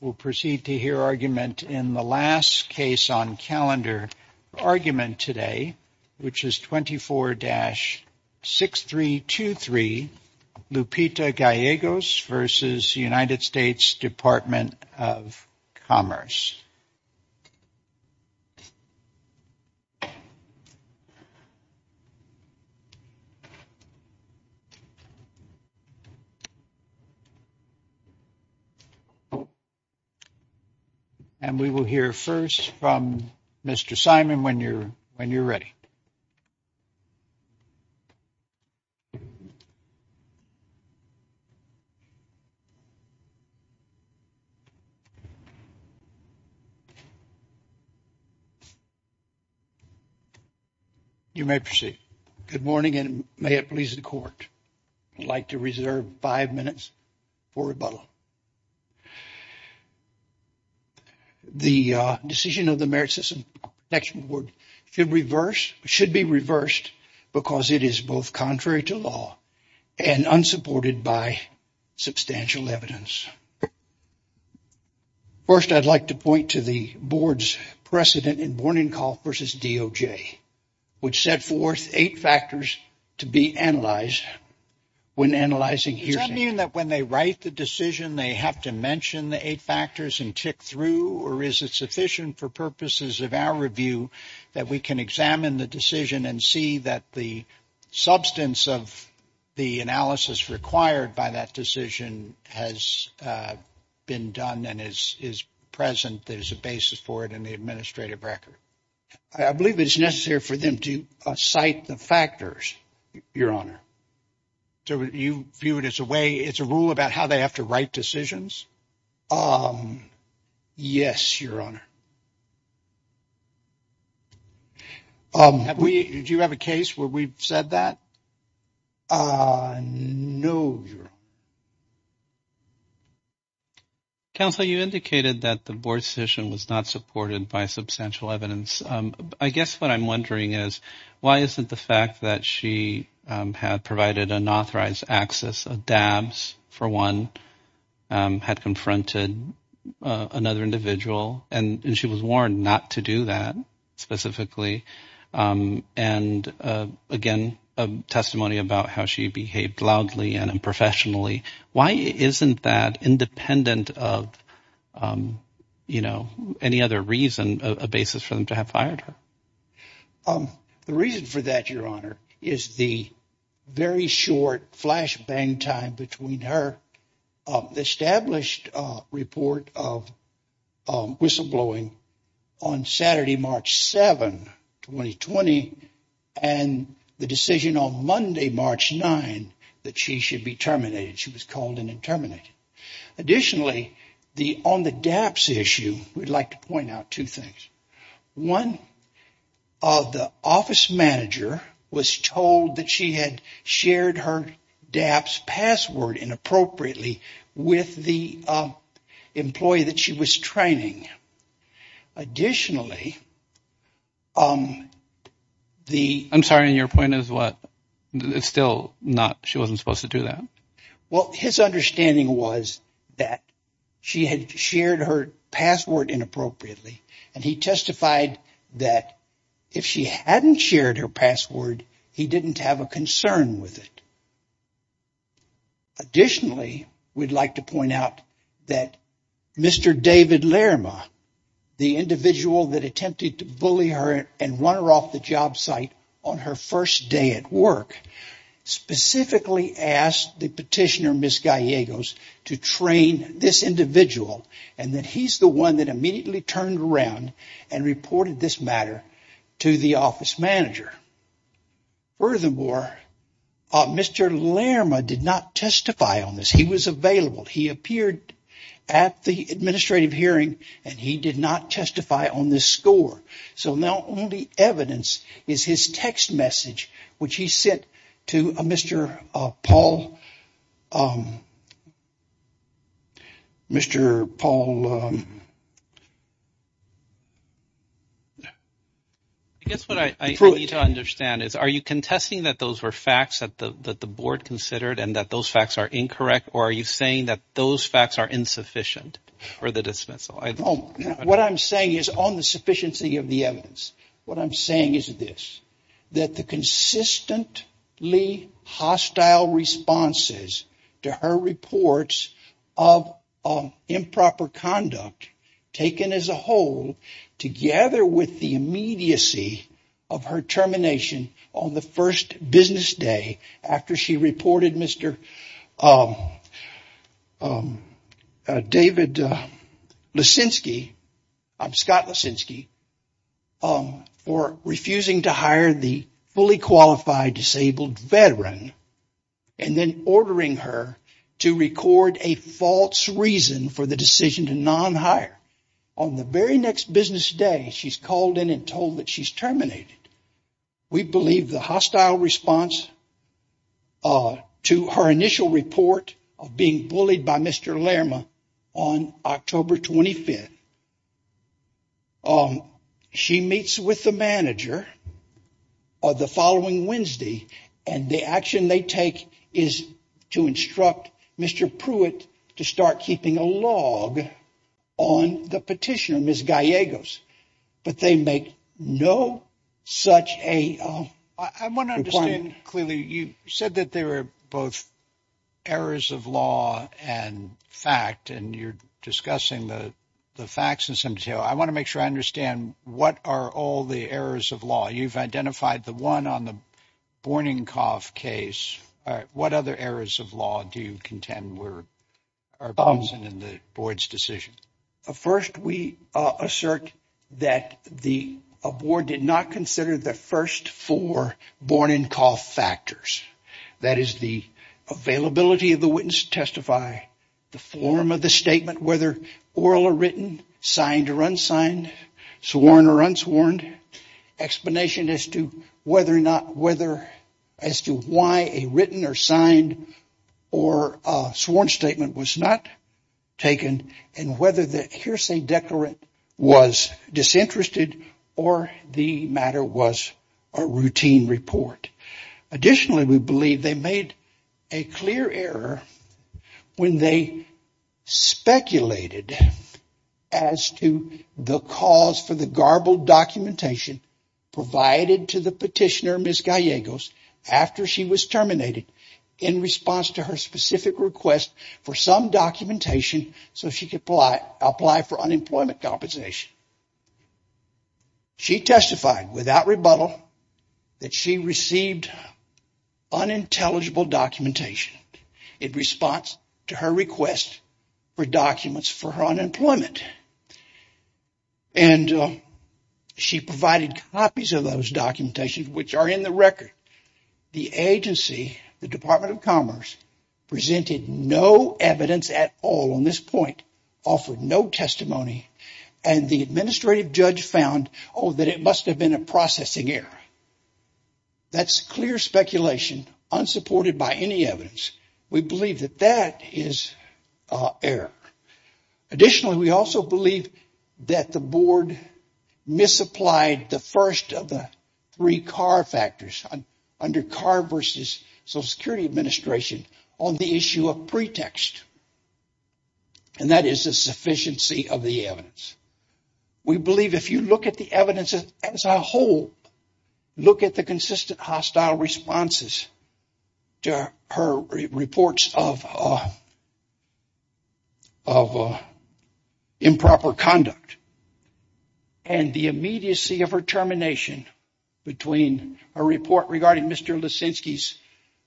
We'll proceed to hear argument in the last case on calendar argument today, which is 24-6323 Lupita Gallegos v. United States Department of Commerce. And we will hear first from Mr. Simon when you're when you're ready. You may proceed. Good morning and may it please the court I'd like to reserve five minutes for rebuttal. The decision of the Merit System Protection Board should reverse should be reversed because it is both contrary to law and unsupported by substantial evidence. First I'd like to point to the board's precedent in Bourninkopf versus DOJ, which set forth eight factors to be analyzed when analyzing hearsay. Does that mean that when they write the decision they have to mention the eight factors and tick through or is it sufficient for purposes of our review that we can examine the decision and see that the substance of the analysis required by that decision has been done and is present there's a basis for it in the administrative record? I believe it's necessary for them to cite the factors, your honor. So you view it as a way it's a rule about how they have to write decisions? Yes, your honor. Do you have a case where we've said that? No, your honor. Counsel, you indicated that the board's decision was not supported by substantial evidence. I guess what I'm wondering is why isn't the fact that she had provided unauthorized access, dabs for one, had confronted another individual and she was warned not to do that specifically and again a testimony about how she behaved loudly and unprofessionally. Why isn't that independent of, you know, any other reason, a basis for them to have fired her? The reason for that, your honor, is the very short flash bang time between her established report of whistleblowing on Saturday, March 7, 2020, and the decision on Monday, March 9, that she should be terminated. She was called in and terminated. Additionally, on the dabs issue, we'd like to point out two things. One, the office manager was told that she had shared her dabs password inappropriately with the employee that she was training. Additionally, the... I'm sorry, your point is what? It's still not, she wasn't supposed to do that? Well, his understanding was that she had shared her password inappropriately and he testified that if she hadn't shared her password, he didn't have a concern with it. Additionally, we'd like to point out that Mr. David Lerma, the individual that attempted to bully her and run her off the job site on her first day at work, specifically asked the petitioner, Ms. Gallegos, to train this individual and that he's the one that immediately turned around and reported this matter to the office manager. Furthermore, Mr. Lerma did not testify on this. He was available. He appeared at the administrative hearing and he did not testify on this score. Now only evidence is his text message, which he sent to Mr. Paul... Mr. Paul... I guess what I need to understand is, are you contesting that those were facts that the board considered and that those facts are incorrect or are you saying that those facts are insufficient for the dismissal? What I'm saying is on the sufficiency of the evidence. What I'm saying is this, that the consistently hostile responses to her reports of improper conduct taken as a whole together with the immediacy of her termination on the first business day after she reported Mr. David Leszczynski, Scott Leszczynski, for refusing to hire the fully qualified disabled veteran and then ordering her to record a false reason for the decision to non-hire. On the very next business day, she's called in and told that she's terminated. We believe the hostile response to her initial report of being bullied by Mr. Lerma on October 25th. She meets with the manager the following Wednesday and the action they take is to instruct Mr. Pruitt to start keeping a log on the petitioner, Ms. Gallegos, but they make no such a... I want to understand clearly, you said that there were both errors of law and fact and you're discussing the facts in some detail. I want to make sure I understand what are all the errors of You've identified the one on the morning cough case. What other errors of law do you contend in the board's decision? First, we assert that the board did not consider the first four morning call factors. That is the availability of the witness to testify, the form of the statement, whether oral or written, signed or unsigned, sworn or unsworn, explanation as to whether or not, whether as to why a written or signed or a sworn statement was not taken and whether the hearsay declarant was disinterested or the matter was a routine report. Additionally, we believe they made a clear error when they speculated as to the cause for the garbled documentation provided to the petitioner, Ms. Gallegos, after she was terminated in response to her specific request for some documentation so she could apply for unemployment compensation. She testified without rebuttal that she received unintelligible documentation in response to her request for documents for her unemployment. And she provided copies of those documentations, which are in the record. The agency, the Department of Commerce, presented no evidence at all on this point, offered no testimony, and the administrative judge found that it must have been a processing error. That's clear speculation unsupported by any evidence. We believe that that is error. Additionally, we also believe that the board misapplied the first of the three CAR factors under CAR versus Social Security Administration on the issue of pretext. And that is a sufficiency of the evidence. We believe if you look at the evidence as a whole, look at the consistent hostile responses to her reports of improper conduct, and the immediacy of her termination between a report regarding Mr. Leszczynski's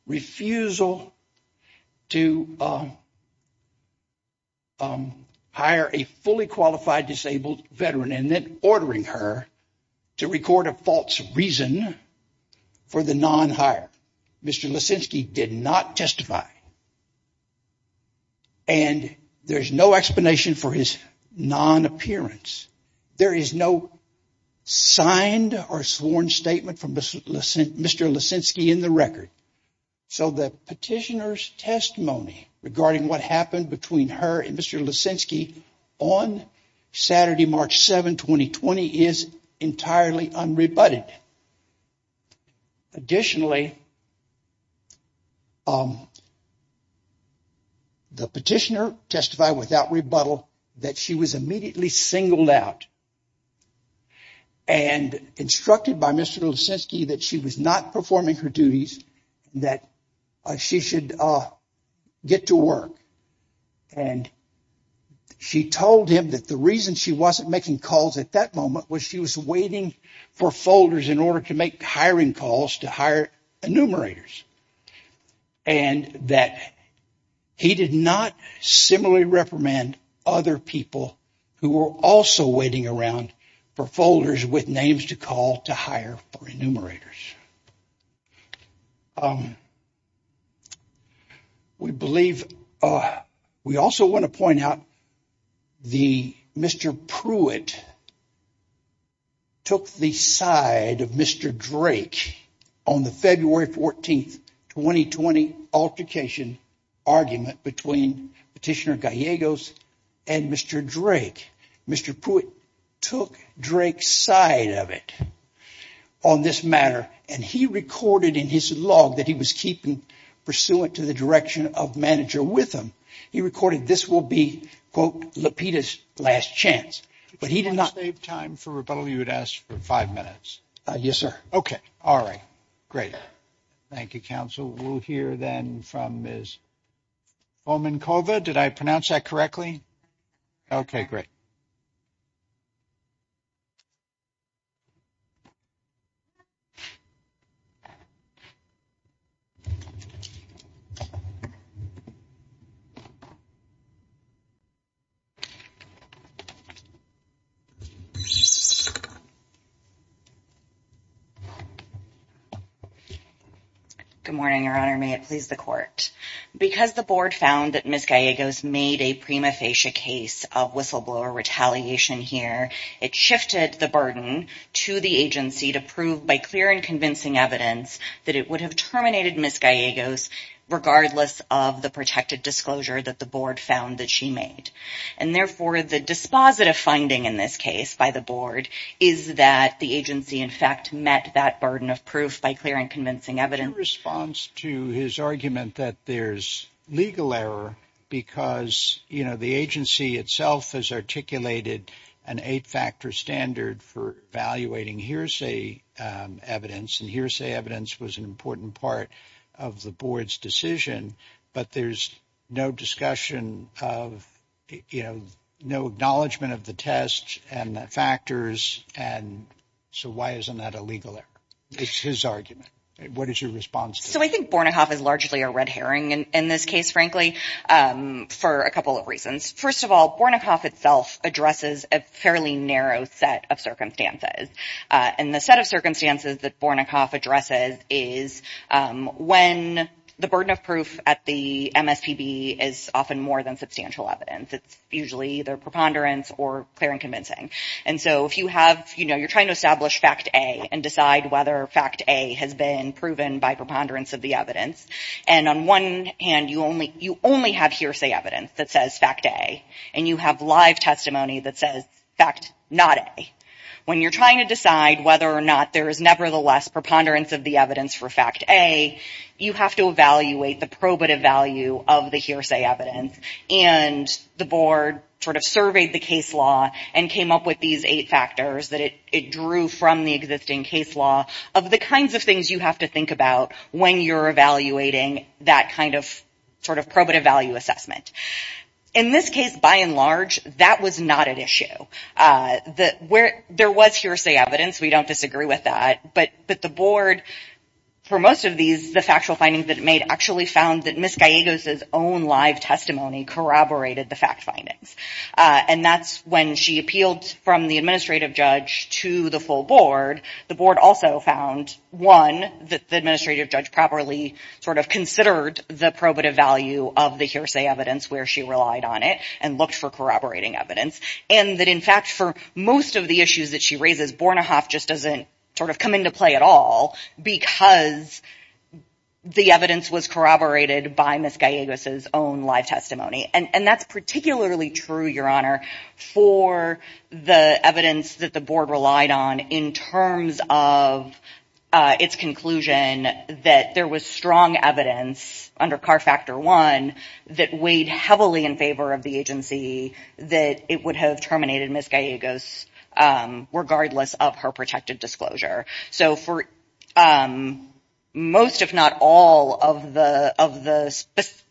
refusal to hire a fully qualified disabled veteran, and then ordering her to record a false reason for the non-hire. Mr. Leszczynski did not testify. And there's no explanation for his non-appearance. There is no signed or sworn statement from Mr. Leszczynski in the record. So the petitioner's testimony regarding what happened between her and Mr. Leszczynski on Saturday, March 7, 2020 is entirely unrebutted. Additionally, the petitioner testified without rebuttal that she was immediately singled out and instructed by Mr. Leszczynski that she was not performing her duties, that she should get to work. And she told him that the reason she wasn't making calls at that moment was she was waiting for folders in order to make hiring calls to hire enumerators. And that he did not similarly reprimand other people who were also waiting around for folders with names to call to hire enumerators. We also want to point out that Mr. Pruitt took the side of Mr. Drake on the February 14, 2020 altercation argument between Petitioner Gallegos and Mr. Drake. Mr. Pruitt took Drake's side of it on this matter, and he recorded in his log that he was keeping pursuant to the direction of manager with him. He recorded this will be, quote, Lapita's last chance, but he did not. You would ask for five minutes. Yes, sir. Okay. All right. Great. Thank you, Council. We'll hear then from Ms. Bomankova. Did I pronounce that correctly? Okay, great. Good morning, Your Honor. May it please the court. Because the board found that Ms. Gallegos made a prima facie case of whistleblower retaliation here, it shifted the burden to the agency to prove by clear and convincing evidence that it would have terminated Ms. Gallegos regardless of the protected disclosure that the board found that she made. And therefore, the dispositive finding in this case by the board is that the agency, in fact, met that burden of proof by clear and convincing evidence. In response to his argument that there's legal error because, you know, the agency itself has articulated an eight-factor standard for evaluating hearsay evidence, and hearsay evidence was an important part of the board's decision, but there's no discussion of, you know, no acknowledgement of the test and the factors, and so why isn't that a legal error? It's his argument. What is your response? So I think Bornikoff is largely a red herring in this case, frankly, for a couple of reasons. First of all, Bornikoff itself addresses a fairly narrow set of circumstances. And the set of circumstances that Bornikoff addresses is when the burden of proof at the MSPB is often more than substantial evidence. It's usually either preponderance or clear and convincing. And so if you have, you know, you're trying to establish fact A and decide whether fact A has been proven by preponderance of the evidence, and on one hand, you only have hearsay evidence that says fact A, and you have live testimony that says fact not A. When you're trying to decide whether or not there is nevertheless preponderance of the evidence for fact A, you have to evaluate the probative value of the hearsay evidence, and the board sort of surveyed the case law and came up with these eight factors that it drew from the existing case law of the kinds of things you have to think about when you're evaluating that kind of sort of In this case, by and large, that was not an issue. There was hearsay evidence. We don't disagree with that. But the board, for most of these, the factual findings that it made, actually found that Ms. Gallegos' own live testimony corroborated the fact findings. And that's when she appealed from the administrative judge to the full board. The board also found, one, that the administrative judge properly sort of considered the probative value of the hearsay evidence where she relied on it and looked for corroborating evidence, and that, in fact, for most of the issues that she raises, Bornehoff just doesn't sort of come into play at all because the evidence was corroborated by Ms. Gallegos' own live testimony. And that's particularly true, Your Honor, for the evidence that the board relied on in terms of its conclusion that there was strong evidence under CAR Factor I that weighed heavily in favor of the agency that it would have terminated Ms. Gallegos, regardless of her protected disclosure. So for most, if not all, of the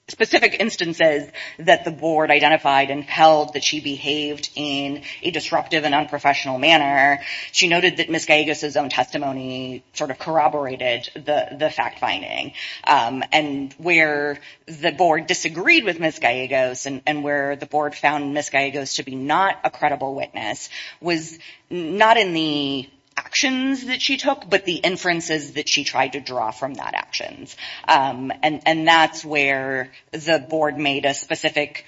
specific instances that the board identified and held that she behaved in a disruptive and unprofessional manner, she noted that Ms. Gallegos' own testimony sort of corroborated the fact finding. And where the board disagreed with Ms. Gallegos, and where the board found Ms. Gallegos to be not a credible witness, was not in the actions that she took, but the inferences that she tried to draw from that actions. And that's where the board made a specific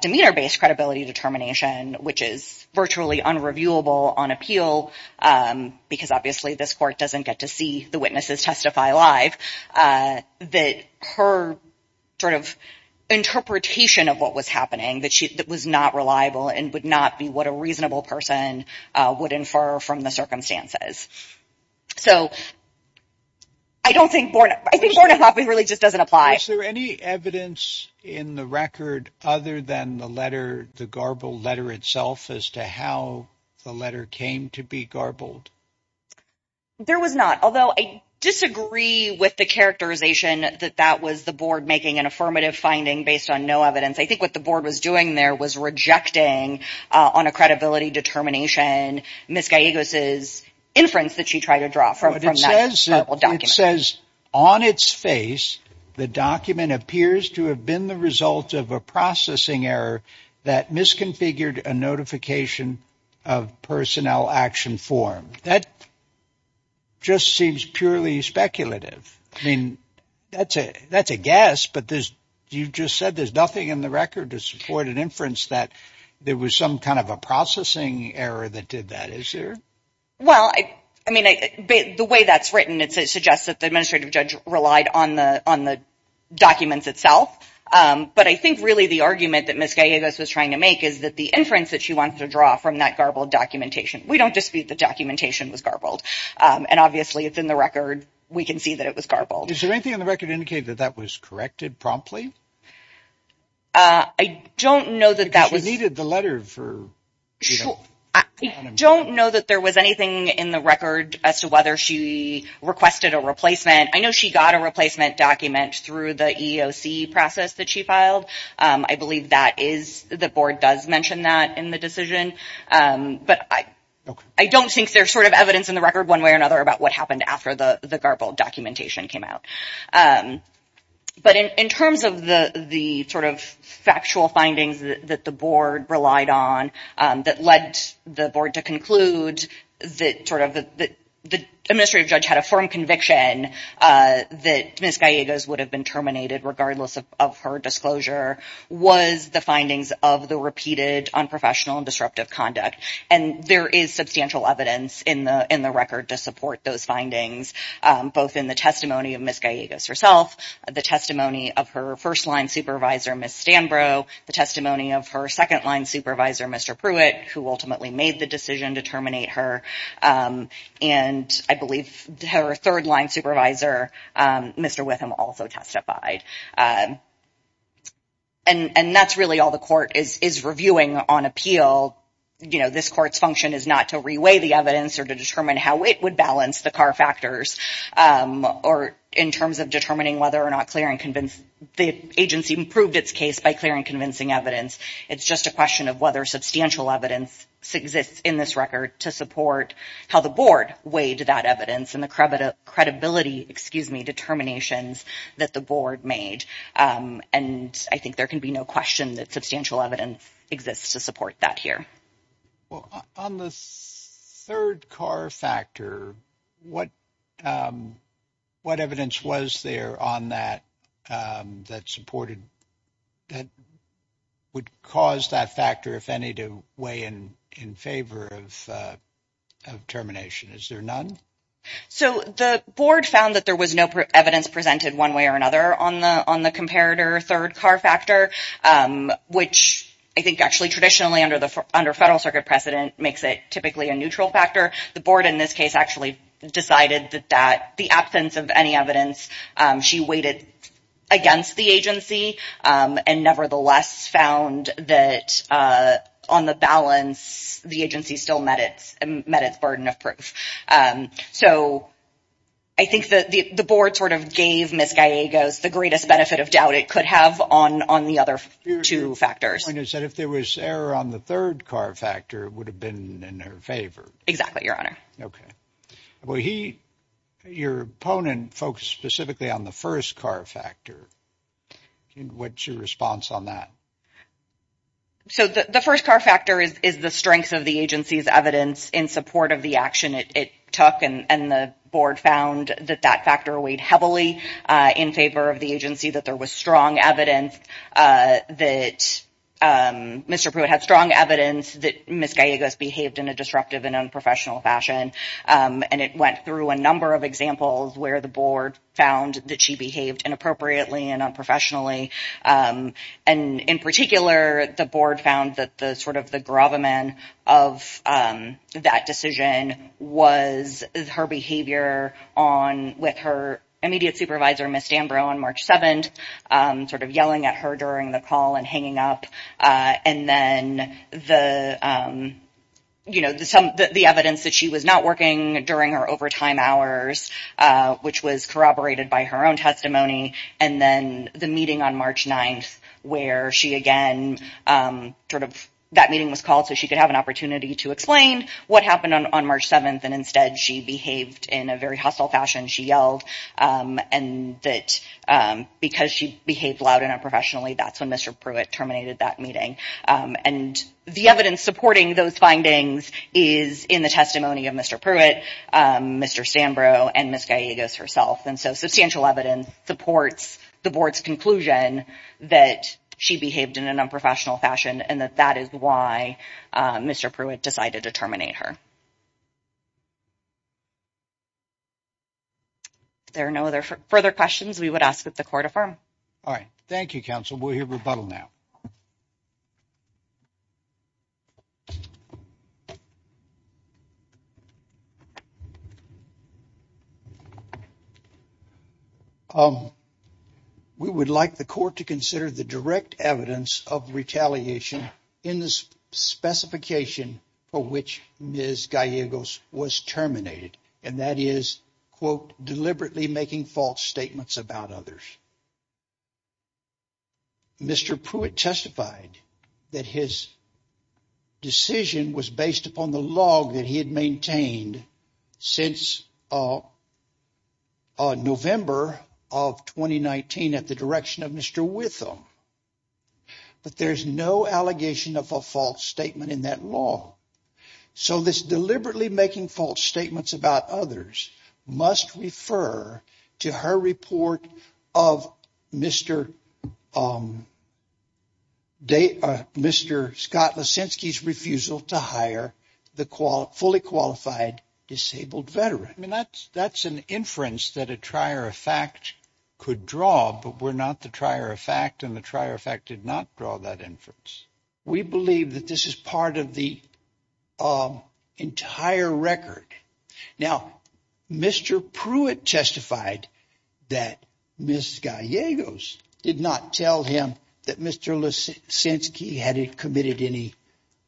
demeanor-based credibility determination, which is virtually unreviewable on appeal, because obviously this court doesn't get to see the witnesses testify live, that her sort of interpretation of what was happening, that was not reliable and would not be what a reasonable person would infer from the circumstances. So I don't think, I think Borna Hoppe really just doesn't apply. Was there any evidence in the record other than the letter, the garbled letter itself, as to how the letter came to be garbled? There was not, although I disagree with the characterization that that was the board making an affirmative finding based on no evidence. I think what the board was doing there was rejecting on a credibility determination Ms. Gallegos' inference that she tried to draw from that garbled document. It says on its face, the document appears to have been the result of a processing error that misconfigured a notification of personnel action form. That just seems purely speculative. I mean, that's a guess, but there's, you just said there's nothing in the record to support an inference that there was some kind of a processing error that did that, is there? Well, I mean, the way that's written, it suggests that the administrative judge relied on the documents itself. But I think really the argument that Ms. Gallegos was trying to make is that the inference that she wanted to draw from that garbled documentation, we don't dispute the documentation was garbled. And obviously it's in the record, we can see that it was garbled. Is there anything in the record to indicate that that was corrected promptly? I don't know that that was... Because she needed the letter for anonymity. I don't know that there was anything in the record as to whether she requested a replacement. I know she got a replacement document through the EEOC process that she filed. I believe that is, the board does mention that in the decision. But I don't think there's sort of evidence in the record one way or another about what happened after the garbled documentation came out. But in terms of the sort of factual findings that the board relied on, that led the board to conclude that sort of the administrative judge had a firm conviction that Ms. Gallegos would have been terminated regardless of her disclosure, was the findings of the repeated unprofessional and disruptive conduct. And there is substantial evidence in the record to support those findings, both in the testimony of Ms. Gallegos herself, the testimony of her first-line supervisor, Ms. Stanbro, the testimony of her second-line supervisor, Mr. Pruitt, who ultimately made the decision to terminate her. And I believe her third-line supervisor, Mr. Witham, also testified. And that's really all the court is reviewing on appeal. You know, this court's function is not to re-weigh the evidence or to determine how it would balance the CAR factors or in terms of determining whether or not the agency improved its case by clear and convincing evidence. It's just a question of whether substantial evidence exists in this record to support how the board weighed that evidence and the credibility, excuse me, determinations that the board made. And I think there can be no question that substantial evidence exists to support that here. Well, on the third CAR factor, what evidence was there on that that supported that would cause that factor, if any, to weigh in favor of termination? Is there none? So, the board found that there was no evidence presented one way or another on the comparator third CAR factor, which I think actually traditionally under federal circuit precedent makes it typically a neutral factor. The board in this case actually decided that the absence of any evidence, she weighted against the agency and nevertheless found that on the balance, the agency still met its burden of proof. So, I think the board sort of gave Ms. Gallegos the greatest benefit of doubt it could have on the other two factors. Your point is that if there was error on the third CAR factor, it would have been in her favor. Exactly, Your Honor. Okay. Well, your opponent focused specifically on the first CAR factor. What's your response on that? So, the first CAR factor is the strength of the agency's evidence in support of the action it took, and the board found that that factor weighed heavily in favor of the agency, that there was strong evidence that Mr. Pruitt had strong evidence that Ms. Gallegos behaved in a disruptive and unprofessional fashion. And it went through a number of examples where the board found that behaved inappropriately and unprofessionally. And in particular, the board found that the sort of the gravamen of that decision was her behavior with her immediate supervisor, Ms. Dambro, on March 7th, sort of yelling at her during the call and hanging up. And then the evidence that she was not working during her overtime hours, which was corroborated by her own testimony. And then the meeting on March 9th, where she again, sort of, that meeting was called so she could have an opportunity to explain what happened on March 7th. And instead, she behaved in a very hostile fashion. She yelled, and that because she behaved loud and unprofessionally, that's when Mr. Pruitt terminated that meeting. And the evidence supporting those findings is in the testimony of Mr. Pruitt, Mr. Dambro, and Ms. Gallegos herself. And so substantial evidence supports the board's conclusion that she behaved in an unprofessional fashion and that that is why Mr. Pruitt decided to terminate her. If there are no other further questions, we would ask that the court affirm. All right. Thank you, counsel. We'll hear rebuttal now. Um, we would like the court to consider the direct evidence of retaliation in this specification for which Ms. Gallegos was terminated. And that is, quote, deliberately making false statements about others. Mr. Pruitt testified that his decision was based upon the log that he had maintained since November of 2019 at the direction of Mr. Witham. But there's no allegation of a false statement in that law. So this deliberately refusal to hire the fully qualified disabled veteran. I mean, that's that's an inference that a trier of fact could draw. But we're not the trier of fact. And the trier of fact did not draw that inference. We believe that this is part of the entire record. Now, Mr. Pruitt testified that Ms. Gallegos did not tell him that Mr. Lisinski had committed any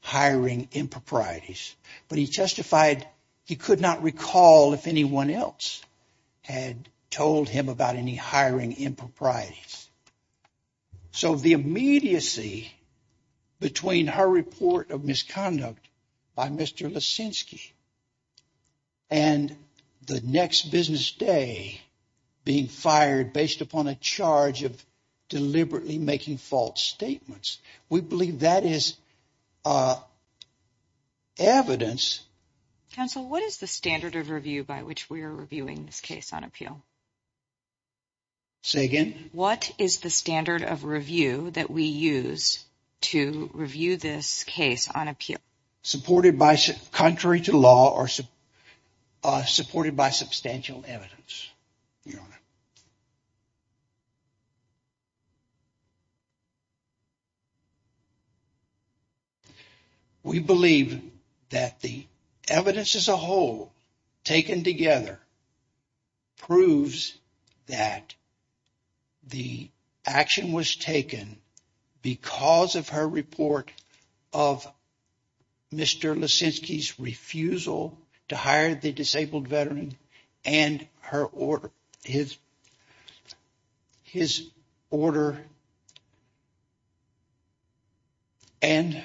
hiring improprieties, but he testified he could not recall if anyone else had told him about any hiring improprieties. So the immediacy between her report of misconduct by Mr. Lisinski and the next business day being fired based upon a charge of deliberately making false statements, we believe that is evidence. Counsel, what is the standard of review by which we are reviewing this case on appeal? Say again. What is the standard of review that we use to review this case on appeal? Supported by country to law or supported by substantial evidence. We believe that the evidence as a whole taken together proves that the action was taken because of her report of Mr. Lisinski's refusal to hire the disabled veteran and his order. And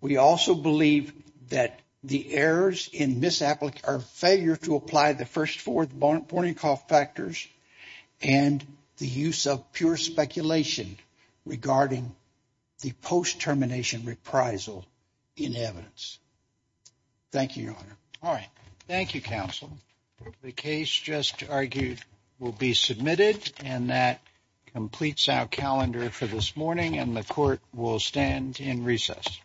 we also believe that the errors in misapplication or failure to apply the warning call factors and the use of pure speculation regarding the post-termination reprisal in evidence. Thank you, Your Honor. All right. Thank you, Counsel. The case just argued will be submitted, and that completes our calendar for this morning, and the court will stand in recess. Thank you very much.